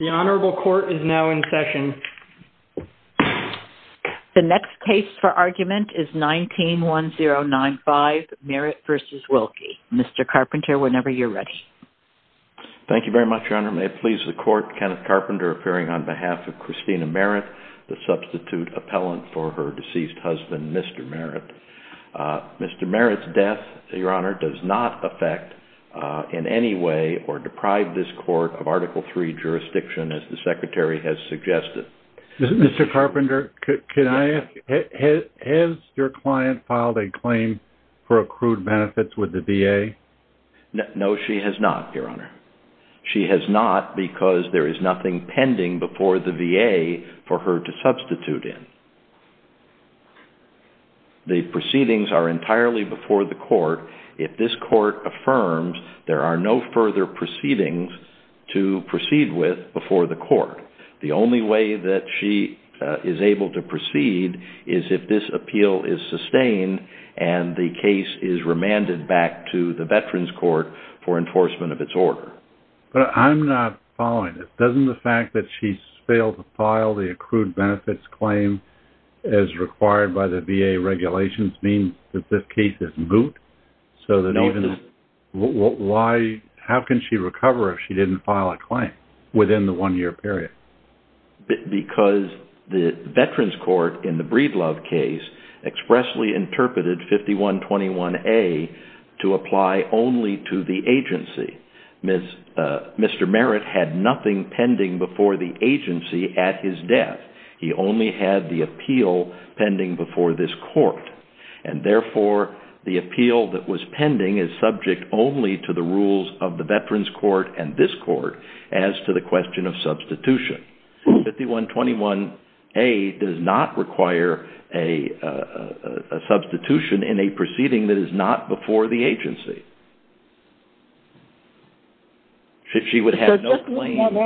The next case for argument is 19-1095, Merritt v. Wilkie. Mr. Carpenter, whenever you're ready. Thank you very much, Your Honor. May it please the Court, Kenneth Carpenter appearing on behalf of Christina Merritt, the substitute appellant for her deceased husband, Mr. Merritt. Mr. Merritt's death, Your Honor, does not affect in any way or deprive this Court of Article III jurisdiction as the Secretary has suggested. Mr. Carpenter, has your client filed a claim for accrued benefits with the VA? No, she has not, Your Honor. She has not because there is nothing pending before the VA for her to substitute in. The proceedings are entirely before the Court. If this Court affirms, there are no further proceedings to proceed with before the Court. The only way that she is able to proceed is if this appeal is sustained and the case is remanded back to the Veterans Court for enforcement of its order. But I'm not following this. Doesn't the fact that she's failed to file the accrued benefits claim as required by the VA regulations mean that this case is moot? How can she recover if she didn't file a claim within the one-year period? Because the Veterans Court in the Breedlove case expressly interpreted 5121A to apply only to the agency. Mr. Merritt had nothing pending before the agency at his death. He only had the appeal pending before this Court. Therefore, the appeal that was pending is subject only to the rules of the Veterans Court and this Court as to the question of substitution. 5121A does not require a substitution in a proceeding that is not before the agency.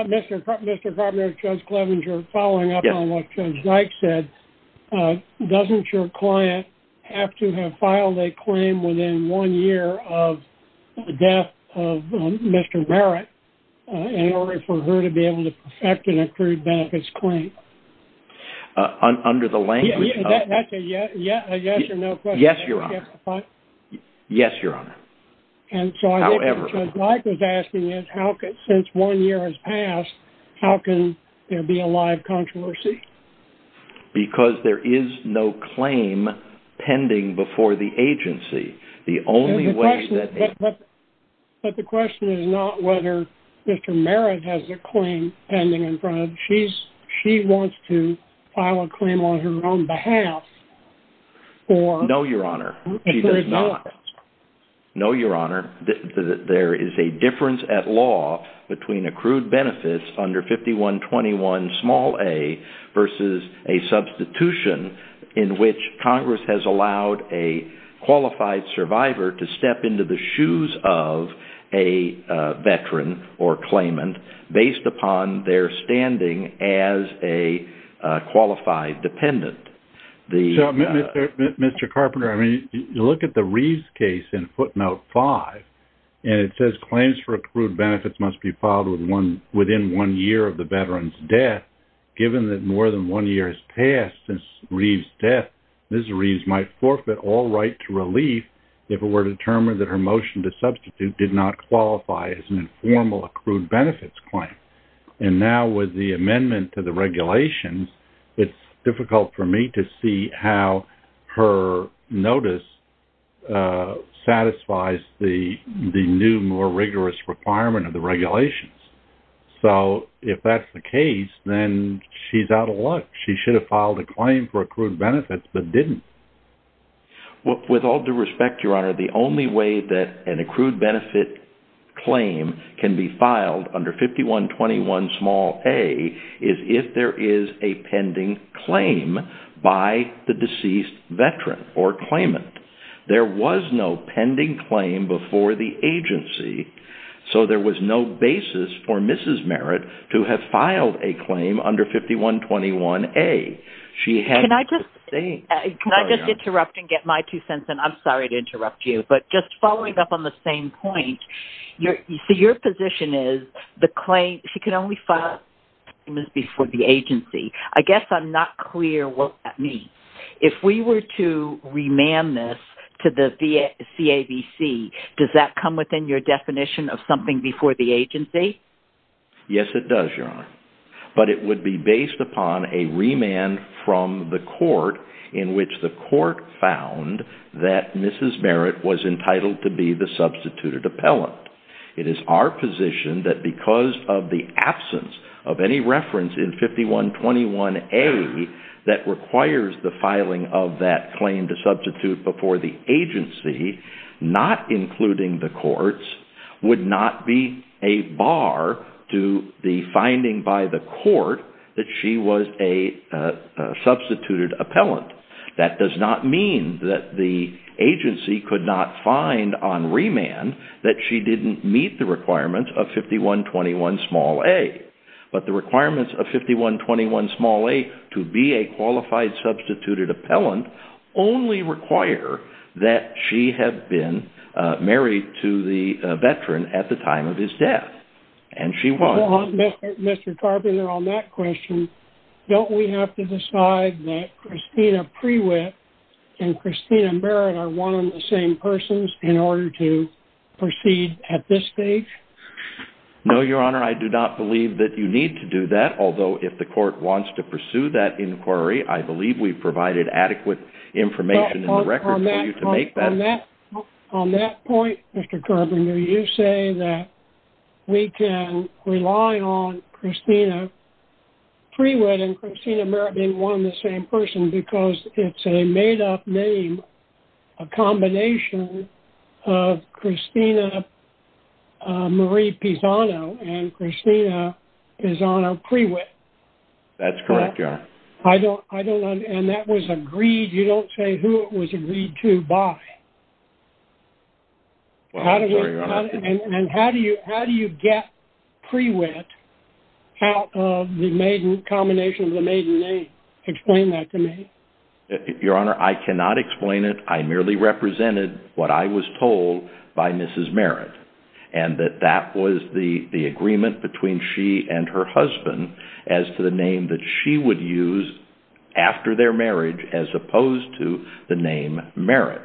Mr. Carpenter, Judge Clevenger, following up on what Judge Dyke said, doesn't your client have to have filed a claim within one year of the death of Mr. Merritt in order for her to be able to perfect an accrued benefits claim? That's a yes or no question. Yes, Your Honor. And so I guess what Judge Dyke was asking is, since one year has passed, how can there be a live controversy? Because there is no claim pending before the agency. But the question is not whether Mr. Merritt has a claim pending in front of him. She wants to file a claim on her own behalf. No, Your Honor. She does not. to step into the shoes of a Veteran or claimant based upon their standing as a qualified dependent. Mr. Carpenter, I mean, you look at the Reeves case in footnote 5, and it says claims for accrued benefits must be filed within one year of the Veteran's death. Given that more than one year has passed since Reeves' death, Ms. Reeves might forfeit all right to relief if it were determined that her motion to substitute did not qualify as an informal accrued benefits claim. And now with the amendment to the regulations, it's difficult for me to see how her notice satisfies the new, more rigorous requirement of the regulations. So if that's the case, then she's out of luck. She should have filed a claim for accrued benefits but didn't. With all due respect, Your Honor, the only way that an accrued benefits claim can be filed under 5121a is if there is a pending claim by the deceased Veteran or claimant. There was no pending claim before the agency, so there was no basis for Mrs. Merritt to have filed a claim under 5121a. Can I just interrupt and get my two cents in? I'm sorry to interrupt you, but just following up on the same point, your position is she can only file claims before the agency. I guess I'm not clear what that means. If we were to remand this to the CAVC, does that come within your definition of something before the agency? Yes, it does, Your Honor. But it would be based upon a remand from the court in which the court found that Mrs. Merritt was entitled to be the substituted appellant. It is our position that because of the absence of any reference in 5121a that requires the filing of that claim to substitute before the agency, not including the courts, would not be a bar to the finding by the court that she was a substituted appellant. That does not mean that the agency could not find on remand that she didn't meet the requirements of 5121a. But the requirements of 5121a to be a qualified substituted appellant only require that she have been married to the Veteran at the time of his death. Mr. Carpenter, on that question, don't we have to decide that Christina Prewitt and Christina Merritt are one and the same persons in order to proceed at this stage? No, Your Honor. I do not believe that you need to do that. Although, if the court wants to pursue that inquiry, I believe we've provided adequate information in the record for you to make that. On that point, Mr. Carpenter, you say that we can rely on Christina Prewitt and Christina Merritt being one and the same person because it's a made-up name, a combination of Christina Marie Pisano and Christina Pisano Prewitt. That's correct, Your Honor. And that was agreed, you don't say who it was agreed to by. I'm sorry, Your Honor. And how do you get Prewitt out of the combination of the maiden name? Explain that to me. Your Honor, I cannot explain it. I merely represented what I was told by Mrs. Merritt and that that was the agreement between she and her husband as to the name that she would use after their marriage as opposed to the name Merritt.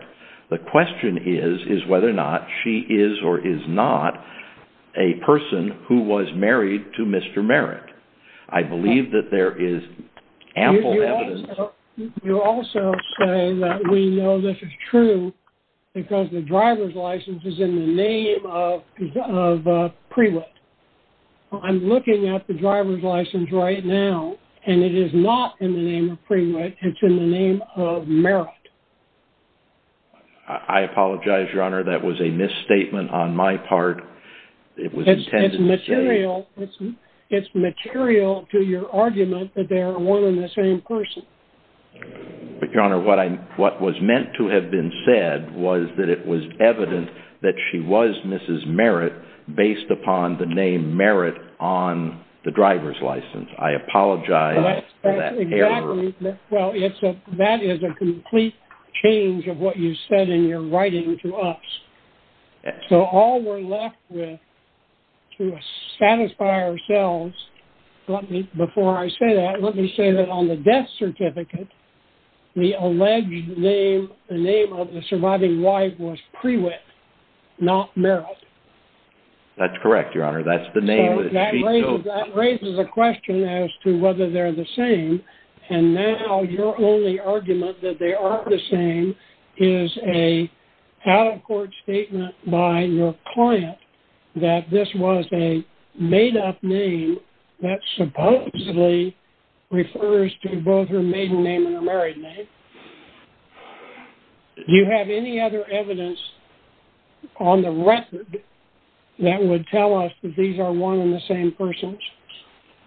The question is whether or not she is or is not a person who was married to Mr. Merritt. I believe that there is ample evidence. You also say that we know this is true because the driver's license is in the name of Prewitt. I'm looking at the driver's license right now and it is not in the name of Prewitt. It's in the name of Merritt. I apologize, Your Honor. That was a misstatement on my part. It's material to your argument that they are one and the same person. But, Your Honor, what was meant to have been said was that it was evident that she was Mrs. Merritt based upon the name Merritt on the driver's license. I apologize for that error. That is a complete change of what you said in your writing to us. All we're left with to satisfy ourselves, before I say that, let me say that on the death certificate, the alleged name of the surviving wife was Prewitt, not Merritt. That's correct, Your Honor. That's the name. That raises a question as to whether they're the same, and now your only argument that they aren't the same is an out-of-court statement by your client that this was a made-up name that supposedly refers to both her maiden name and her married name. Do you have any other evidence on the record that would tell us that these are one and the same persons?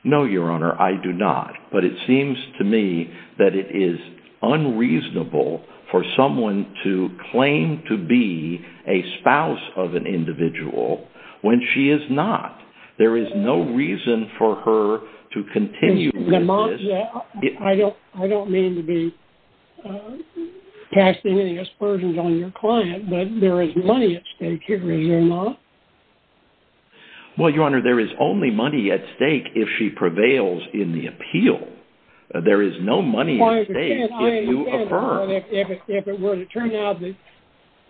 No, Your Honor, I do not. But it seems to me that it is unreasonable for someone to claim to be a spouse of an individual when she is not. There is no reason for her to continue with this. I don't mean to be casting any aspersions on your client, but there is money at stake here, is there not? Well, Your Honor, there is only money at stake if she prevails in the appeal. There is no money at stake if you affirm. If it were to turn out that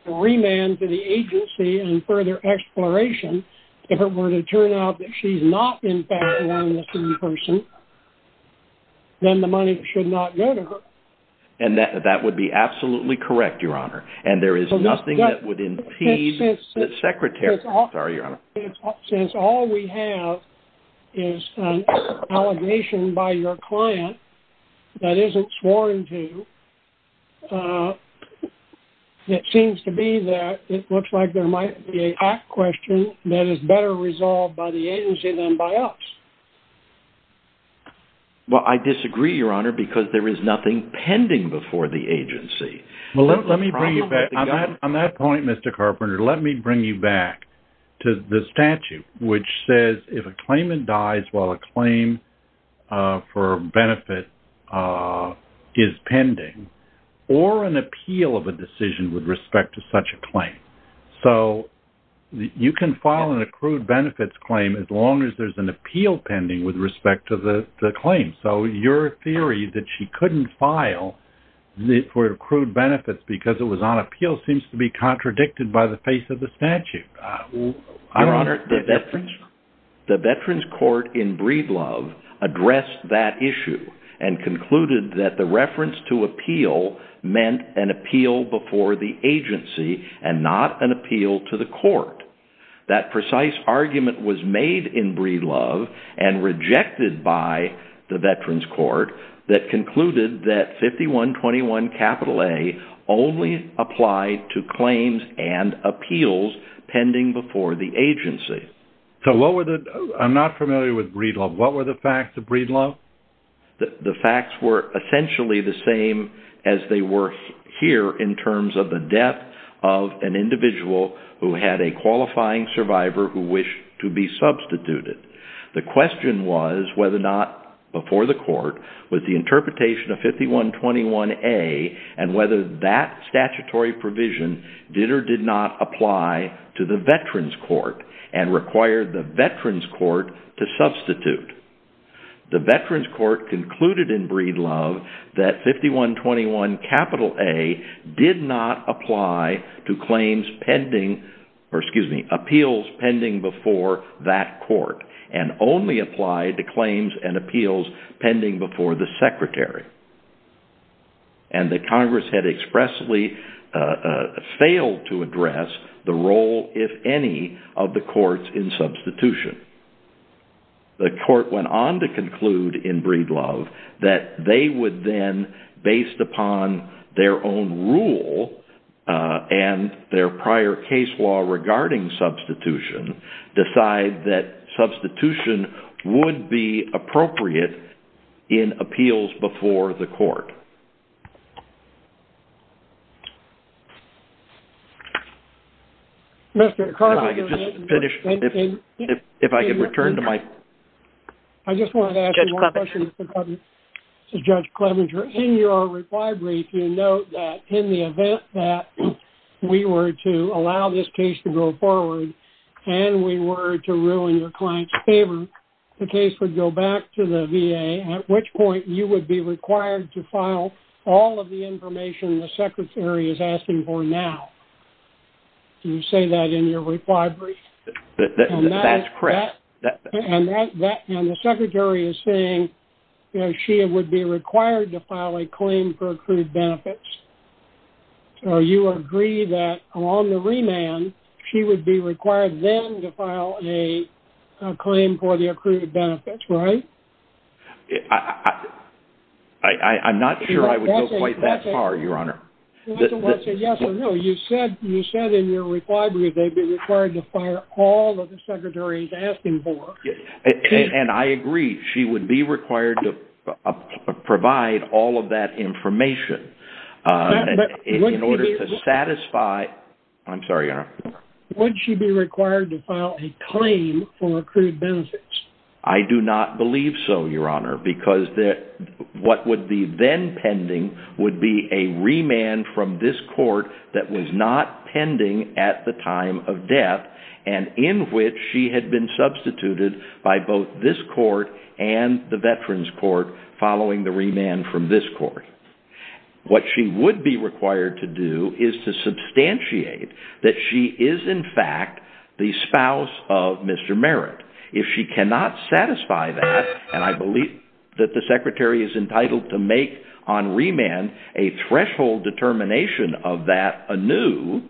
the remand to the agency and further exploration, if it were to turn out that she's not in fact one and the same person, then the money should not go to her. And that would be absolutely correct, Your Honor. And there is nothing that would impede the Secretary. Since all we have is an allegation by your client that isn't sworn to, it seems to be that it looks like there might be an act question that is better resolved by the agency than by us. Well, I disagree, Your Honor, because there is nothing pending before the agency. On that point, Mr. Carpenter, let me bring you back to the statute, which says if a claimant dies while a claim for benefit is pending or an appeal of a decision with respect to such a claim. So you can file an accrued benefits claim as long as there's an appeal pending with respect to the claim. So your theory that she couldn't file for accrued benefits because it was on appeal seems to be contradicted by the face of the statute. Your Honor, the Veterans Court in Breedlove addressed that issue and concluded that the reference to appeal meant an appeal before the agency and not an appeal to the court. That precise argument was made in Breedlove and rejected by the Veterans Court that concluded that 5121A only applied to claims and appeals pending before the agency. I'm not familiar with Breedlove. What were the facts of Breedlove? The facts were essentially the same as they were here in terms of the death of an individual who had a qualifying survivor who wished to be substituted. The question was whether or not before the court was the interpretation of 5121A and whether that statutory provision did or did not apply to the Veterans Court and required the Veterans Court to substitute. The Veterans Court concluded in Breedlove that 5121A did not apply to appeals pending before that court and only applied to claims and appeals pending before the secretary. And the Congress had expressly failed to address the role, if any, of the courts in substitution. The court went on to conclude in Breedlove that they would then, based upon their own rule and their prior case law regarding substitution, decide that substitution would be appropriate in appeals before the court. Mr. Carpenter, in your reply brief, you note that in the event that we were to allow this case to go forward and we were to rule in your client's favor, the case would go back to the VA, at which point you would be required to file all of the information the secretary is asking for now. Do you say that in your reply brief? That's correct. And the secretary is saying she would be required to file a claim for accrued benefits. So you agree that on the remand, she would be required then to file a claim for the accrued benefits, right? I'm not sure I would go quite that far, Your Honor. You said in your reply brief they'd be required to file all of the secretary's asking for. And I agree, she would be required to provide all of that information in order to satisfy... I'm sorry, Your Honor. Would she be required to file a claim for accrued benefits? I do not believe so, Your Honor, because what would be then pending would be a remand from this court that was not pending at the time of death, and in which she had been substituted by both this court and the Veterans Court following the remand from this court. What she would be required to do is to substantiate that she is in fact the spouse of Mr. Merritt. She would not satisfy that, and I believe that the secretary is entitled to make on remand a threshold determination of that anew.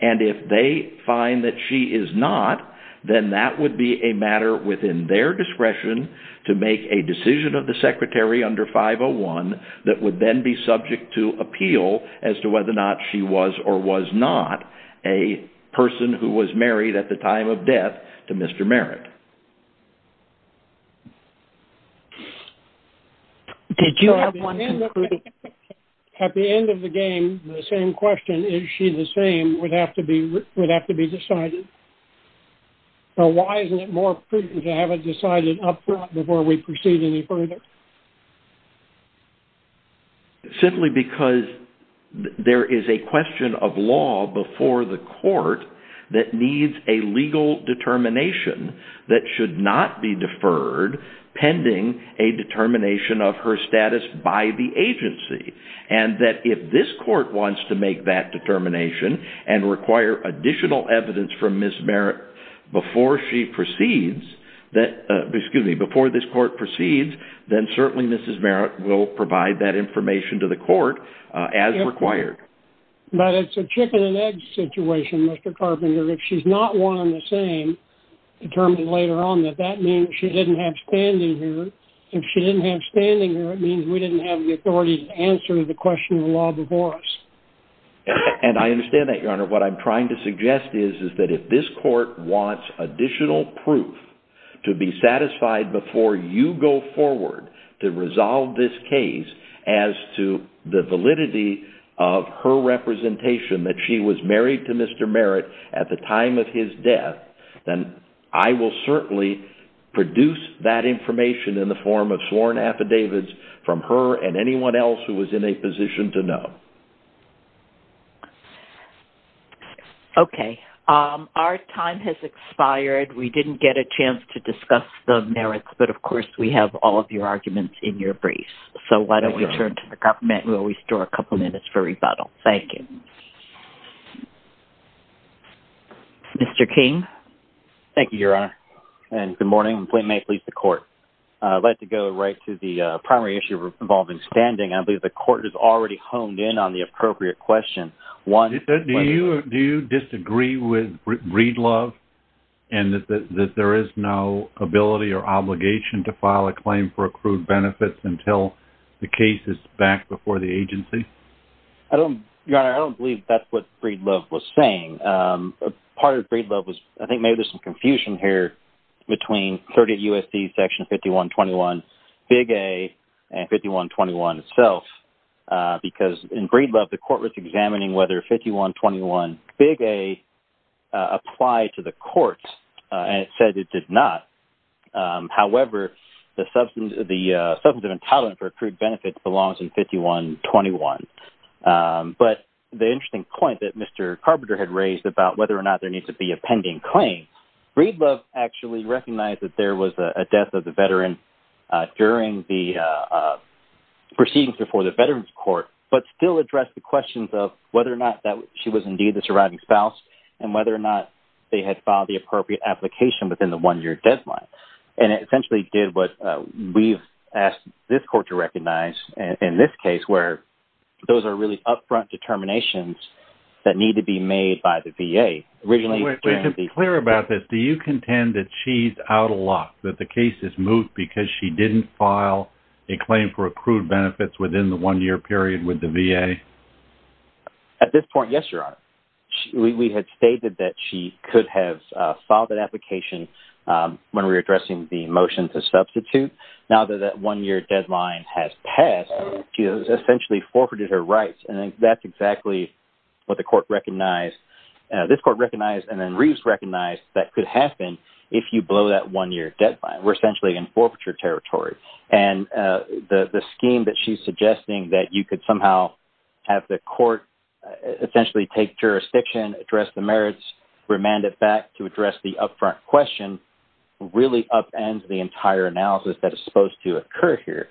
And if they find that she is not, then that would be a matter within their discretion to make a decision of the secretary under 501 that would then be subject to appeal as to whether or not she was or was not a person who was married at the time of death to Mr. Merritt. Did you have one... At the end of the game, the same question, is she the same, would have to be decided. So why isn't it more prudent to have it decided up front before we proceed any further? Simply because there is a question of law before the court that needs a legal determination that should not be deferred pending a determination of her status by the agency. And that if this court wants to make that determination and require additional evidence from Ms. Merritt before she proceeds, excuse me, before this court proceeds, then certainly Ms. Merritt will provide that information to the court as required. But it's a chicken and egg situation, Mr. Carpenter. If she's not one and the same, determined later on, does that mean that she didn't have standing here? If she didn't have standing here, it means we didn't have the authority to answer the question of law before us. And I understand that, Your Honor. What I'm trying to suggest is that if this court wants additional proof to be satisfied before you go forward to resolve this case as to the validity of her representation, that she was married to Mr. Merritt at the time of his death, then I will certainly produce that information in the form of sworn affidavits from her and anyone else who is in a position to know. Okay. Our time has expired. We didn't get a chance to discuss the merits, but of course we have all of your arguments in your briefs. So why don't we turn to the government and we'll restore a couple minutes for rebuttal. Thank you. Mr. King? Thank you, Your Honor. And good morning. Flint Mayfleet, the court. I'd like to go right to the primary issue involving standing. I believe the court has already honed in on the appropriate question. Do you disagree with Breedlove and that there is no ability or obligation to file a claim for accrued benefits until the case is back before the agency? Your Honor, I don't believe that's what Breedlove was saying. Part of Breedlove was, I think maybe there's some confusion here, between 30 U.S.C. Section 5121, Big A, and 5121 itself. Because in Breedlove, the court was examining whether 5121, Big A, applied to the court and it said it did not. However, the substantive entitlement for accrued benefits belongs in 5121. But the interesting point that Mr. Carpenter had raised about whether or not there needs to be a pending claim, Breedlove actually recognized that there was a death of the veteran during the proceedings before the Veterans Court, but still addressed the questions of whether or not she was indeed the surviving spouse, and whether or not they had filed the appropriate application within the one-year deadline. And it essentially did what we've asked this court to recognize in this case, where those are really upfront determinations that need to be made by the VA. To be clear about this, do you contend that she's out of luck? That the case has moved because she didn't file a claim for accrued benefits within the one-year period with the VA? At this point, yes, Your Honor. We had stated that she could have filed that application when we were addressing the motion to substitute. Now that that one-year deadline has passed, she has essentially forfeited her rights. And that's exactly what the court recognized. This court recognized and then Reeves recognized that could happen if you blow that one-year deadline. We're essentially in forfeiture territory. And the scheme that she's suggesting, that you could somehow have the court essentially take jurisdiction, address the merits, remand it back to address the upfront question, really upends the entire analysis that is supposed to occur here.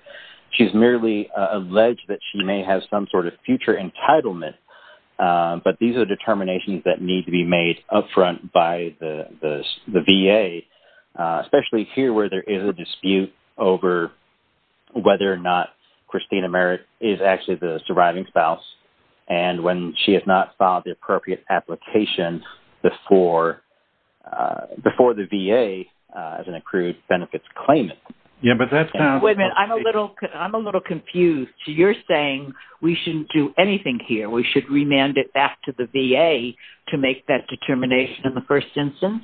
She's merely alleged that she may have some sort of future entitlement. But these are determinations that need to be made upfront by the VA, especially here where there is a dispute over whether or not Christina Merritt is actually the surviving spouse. And when she has not filed the appropriate application before the VA as an accrued benefits claimant. Wait a minute. I'm a little confused. You're saying we shouldn't do anything here. We should remand it back to the VA to make that determination in the first instance?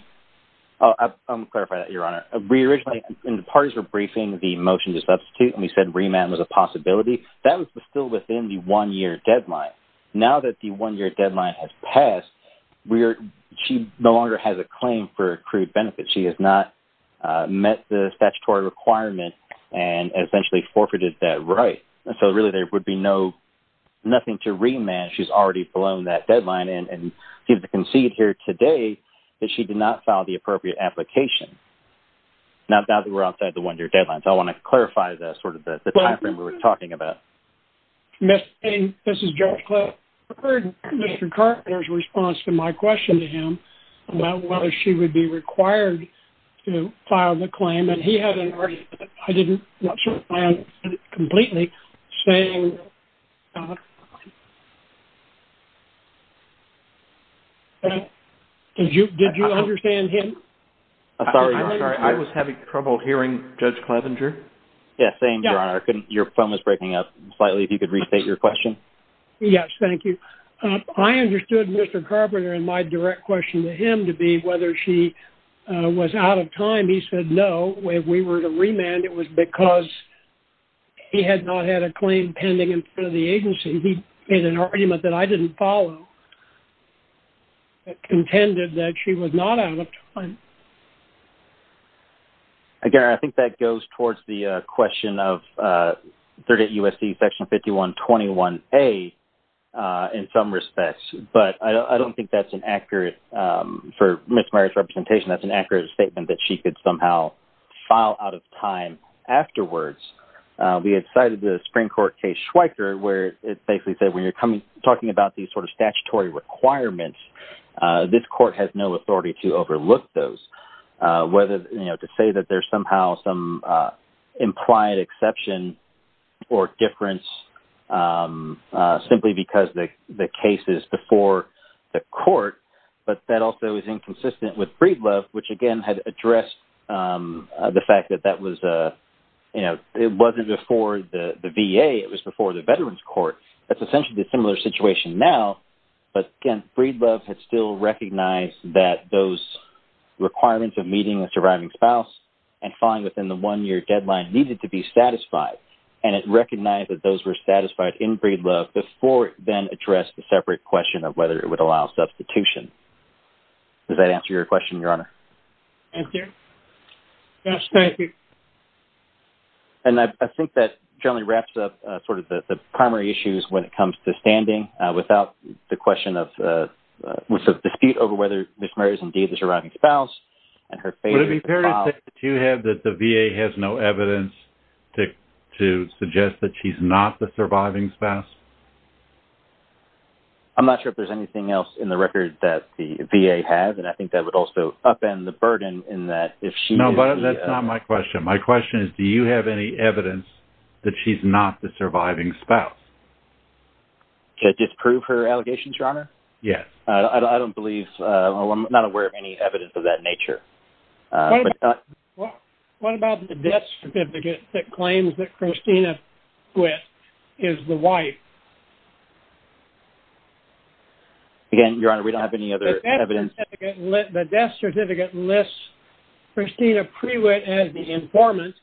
I'll clarify that, Your Honor. Originally, when the parties were briefing the motion to substitute and we said remand was a possibility, that was still within the one-year deadline. Now that the one-year deadline has passed, she no longer has a claim for accrued benefits. She has not met the statutory requirement and essentially forfeited that right. So really there would be nothing to remand. She's already blown that deadline and seems to concede here today that she did not file the appropriate application. Now that we're outside the one-year deadline. So I want to clarify the time frame we were talking about. Mr. Payne, this is Judge Clark. I heard Mr. Carter's response to my question to him about whether she would be required to file the claim. And he had an argument. I didn't watch the plan completely. Did you understand him? I'm sorry, Your Honor. I was having trouble hearing Judge Clevenger. Yes, same, Your Honor. Your phone was breaking up slightly. If you could restate your question. Yes, thank you. I understood Mr. Carpenter and my direct question to him to be whether she was out of time. He said no. If we were to remand it was because he had not had a claim pending in front of the agency. He made an argument that I didn't follow. He contended that she was not out of time. Again, I think that goes towards the question of 38 U.S.C. Section 5121A in some respects. But I don't think that's an accurate, for Ms. Meyers' representation, that's an accurate statement that she could somehow file out of time afterwards. We had cited the Supreme Court case Schweiker where it basically said when you're talking about these sort of statutory requirements, this court has no authority to overlook those. To say that there's somehow some implied exception or difference simply because the case is before the court, but that also is inconsistent with Breedlove, which again had addressed the fact that it wasn't before the VA, it was before the Veterans Court. That's essentially a similar situation now, but again, Breedlove had still recognized that those requirements of meeting a surviving spouse and filing within the one-year deadline needed to be satisfied. And it recognized that those were satisfied in Breedlove before it then addressed the separate question of whether it would allow substitution. Does that answer your question, Your Honor? Thank you. Yes, thank you. And I think that generally wraps up sort of the primary issues when it comes to standing without the question of, with the dispute over whether Ms. Murray is indeed the surviving spouse. Would it be fair to say that you have that the VA has no evidence to suggest that she's not the surviving spouse? I'm not sure if there's anything else in the record that the VA has, and I think that would also upend the burden in that if she... No, but that's not my question. My question is, do you have any evidence that she's not the surviving spouse? To disprove her allegations, Your Honor? Yes. I don't believe... I'm not aware of any evidence of that nature. What about the death certificate that claims that Christina Prewitt is the wife? Again, Your Honor, we don't have any other evidence... The death certificate lists Christina Prewitt as the informant,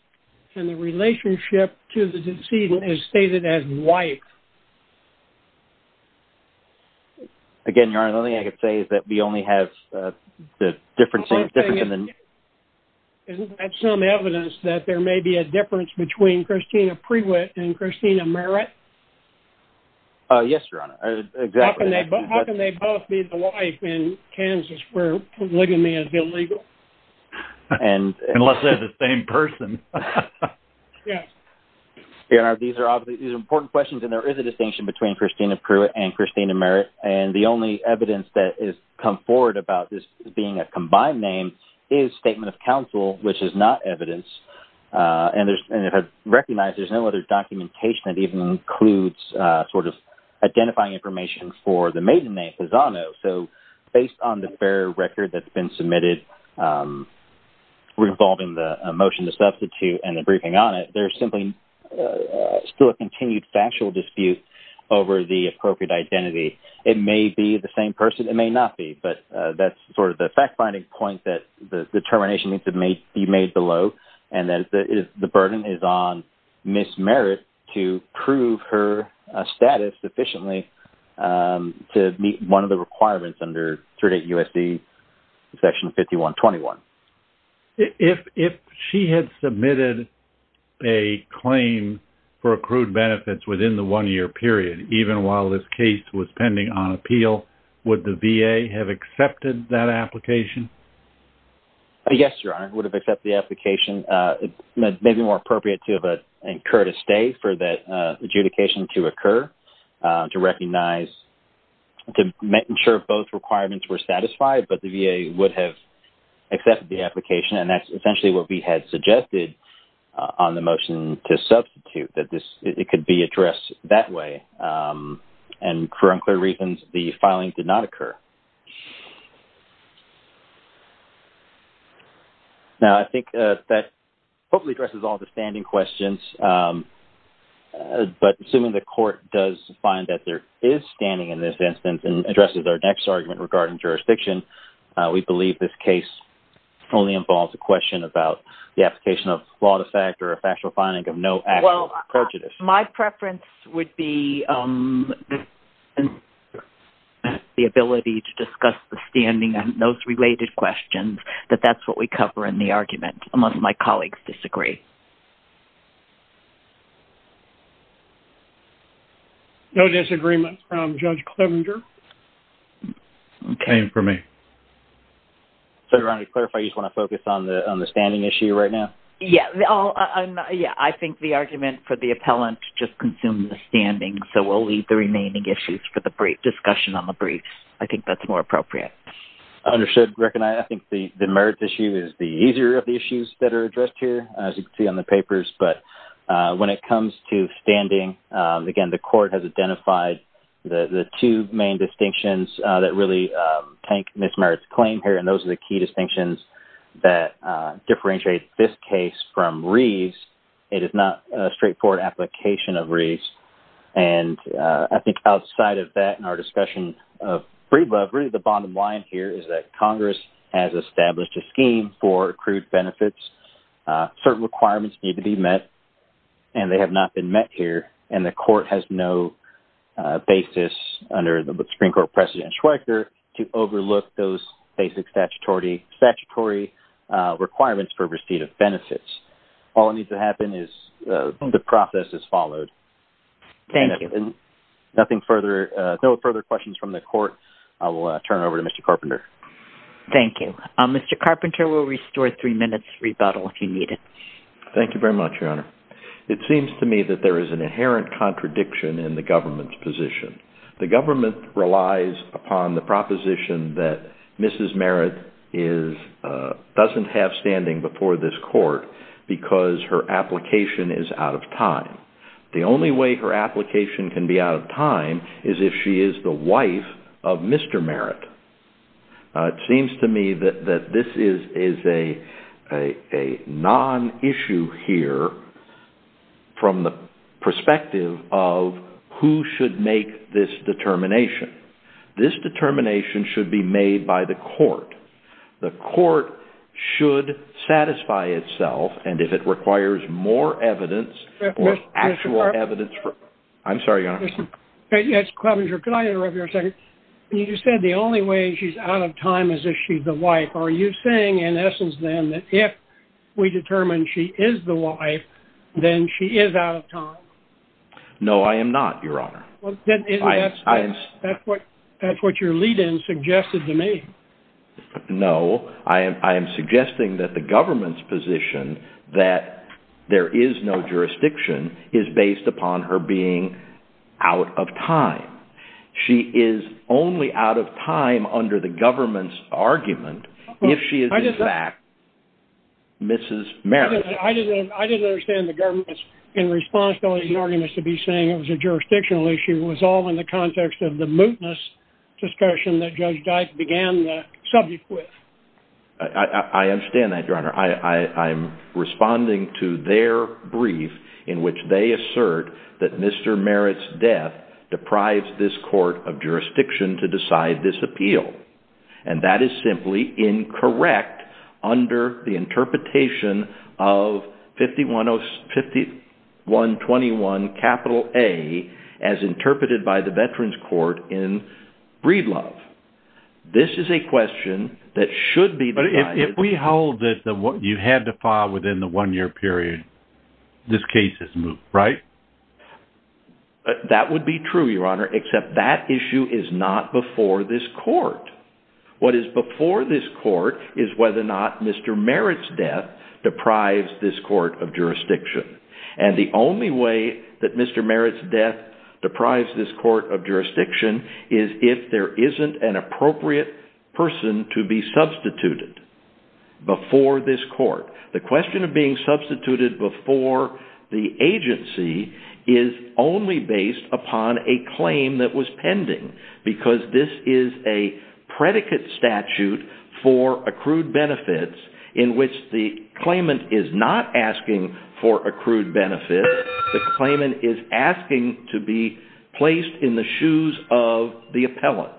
and the relationship to the decedent is stated as wife. Again, Your Honor, the only thing I can say is that we only have the difference in the... Isn't that some evidence that there may be a difference between Christina Prewitt and Christina Merritt? Yes, Your Honor. Exactly. How can they both be the wife in Kansas where living may be illegal? Unless they're the same person. Yes. Your Honor, these are obviously... These are important questions, and there is a distinction between Christina Prewitt and Christina Merritt. And the only evidence that has come forward about this being a combined name is statement of counsel, which is not evidence. And if I recognize, there's no other documentation that even includes sort of identifying information for the maiden name, Pisano. So based on the fair record that's been submitted revolving the motion to substitute and the briefing on it, there's still a continued factual dispute over the appropriate identity. It may be the same person. It may not be. But that's sort of the fact-finding point that the determination needs to be made below, and that the burden is on Ms. Merritt to prove her status sufficiently to meet one of the requirements under 38 U.S.C. Section 5121. If she had submitted a claim for accrued benefits within the one-year period, even while this case was pending on appeal, would the VA have accepted that application? Yes, Your Honor, would have accepted the application. It may be more appropriate to have incurred a stay for that adjudication to occur to recognize... to ensure both requirements were satisfied, but the VA would have accepted the application, and that's essentially what we had suggested on the motion to substitute, that it could be addressed that way. And for unclear reasons, the filing did not occur. Now, I think that hopefully addresses all the standing questions, but assuming the Court does find that there is standing in this instance and addresses our next argument regarding jurisdiction, we believe this case only involves a question about the application of flawed effect or a factual finding of no actual prejudice. Well, my preference would be the ability to discuss the standing and those related questions, that that's what we cover in the argument. Must my colleagues disagree? No disagreements from Judge Clevenger. Okay. Same for me. So, Your Honor, to clarify, you just want to focus on the standing issue right now? Yes. I think the argument for the appellant just consumes the standing, so we'll leave the remaining issues for the brief discussion on the brief. I think that's more appropriate. Understood, Greg. And I think the merits issue is the easier of the issues that are addressed here, as you can see on the papers, but when it comes to standing, again, the Court has identified the two main distinctions that really tank Ms. Merritt's claim here, and those are the key distinctions that differentiate this case from Reeves. It is not a straightforward application of Reeves, and I think outside of that in our discussion of free love, really the bottom line here is that Congress has established a scheme for accrued benefits. Certain requirements need to be met, and they have not been met here, and the Court has no basis under the Supreme Court precedent in Schweiker to overlook those basic statutory requirements for receipt of benefits. All that needs to happen is the process is followed. Thank you. No further questions from the Court. I will turn it over to Mr. Carpenter. Thank you. Mr. Carpenter, we'll restore three minutes rebuttal if you need it. Thank you very much, Your Honor. It seems to me that there is an inherent contradiction in the government's position. The government relies upon the proposition that Mrs. Merritt doesn't have standing before this Court because her application is out of time. The only way her application can be out of time is if she is the wife of Mr. Merritt. It seems to me that this is a non-issue here from the perspective of who should make this determination. This determination should be made by the Court. The Court should satisfy itself, and if it requires more evidence or actual evidence... Mr. Carpenter... I'm sorry, Your Honor. Mr. Carpenter, could I interrupt you for a second? You said the only way she's out of time is if she's the wife. Are you saying, in essence, then, that if we determine she is the wife, then she is out of time? No, I am not, Your Honor. That's what your lead-in suggested to me. No, I am suggesting that the government's position that there is no jurisdiction is based upon her being out of time. She is only out of time under the government's argument if she is in fact Mrs. Merritt. I didn't understand the government's irresponsibility in arguments to be saying it was a jurisdictional issue was all in the context of the mootness discussion that Judge Dyke began the subject with. I understand that, Your Honor. I'm responding to their brief in which they assert that Mr. Merritt's death deprives this court of jurisdiction to decide this appeal. And that is simply incorrect under the interpretation of 5121A as interpreted by the Veterans Court in Breedlove. This is a question that should be... But if we hold that you had to file within the one-year period, this case is moot, right? That would be true, Your Honor, except that issue is not before this court. What is before this court is whether or not Mr. Merritt's death deprives this court of jurisdiction. And the only way that Mr. Merritt's death deprives this court of jurisdiction is if there isn't an appropriate person to be substituted before this court. The question of being substituted before the agency is only based upon a claim that was pending because this is a predicate statute for accrued benefits in which the claimant is not asking for accrued benefits. The claimant is asking to be placed in the shoes of the appellant.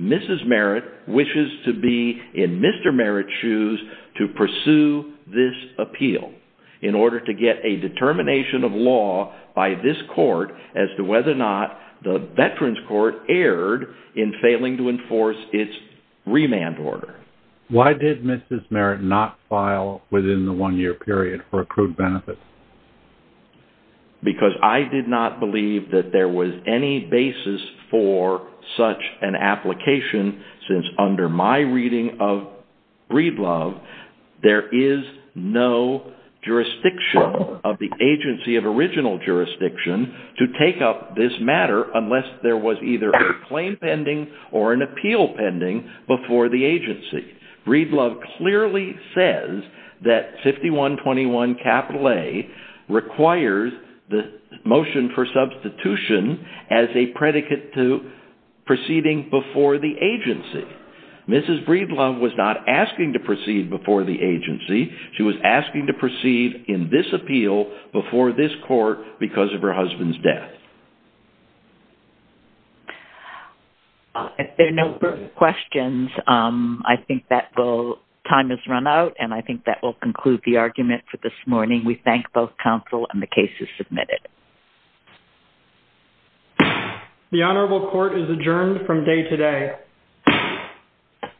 Mrs. Merritt wishes to be in Mr. Merritt's shoes to pursue this appeal in order to get a determination of law by this court as to whether or not the Veterans Court erred in failing to enforce its remand order. Why did Mrs. Merritt not file within the one-year period for accrued benefits? Because I did not believe that there was any basis for such an application since under my reading of Breedlove, there is no jurisdiction of the agency of original jurisdiction to take up this matter unless there was either a claim pending or an appeal pending before the agency. Breedlove clearly says that 5121A requires the motion for substitution as a predicate to proceeding before the agency. Mrs. Breedlove was not asking to proceed before the agency. She was asking to proceed in this appeal before this court because of her husband's death. If there are no further questions, I think that time has run out and I think that will conclude the argument for this morning. We thank both counsel and the case is submitted. The Honorable Court is adjourned from day today. Thank you.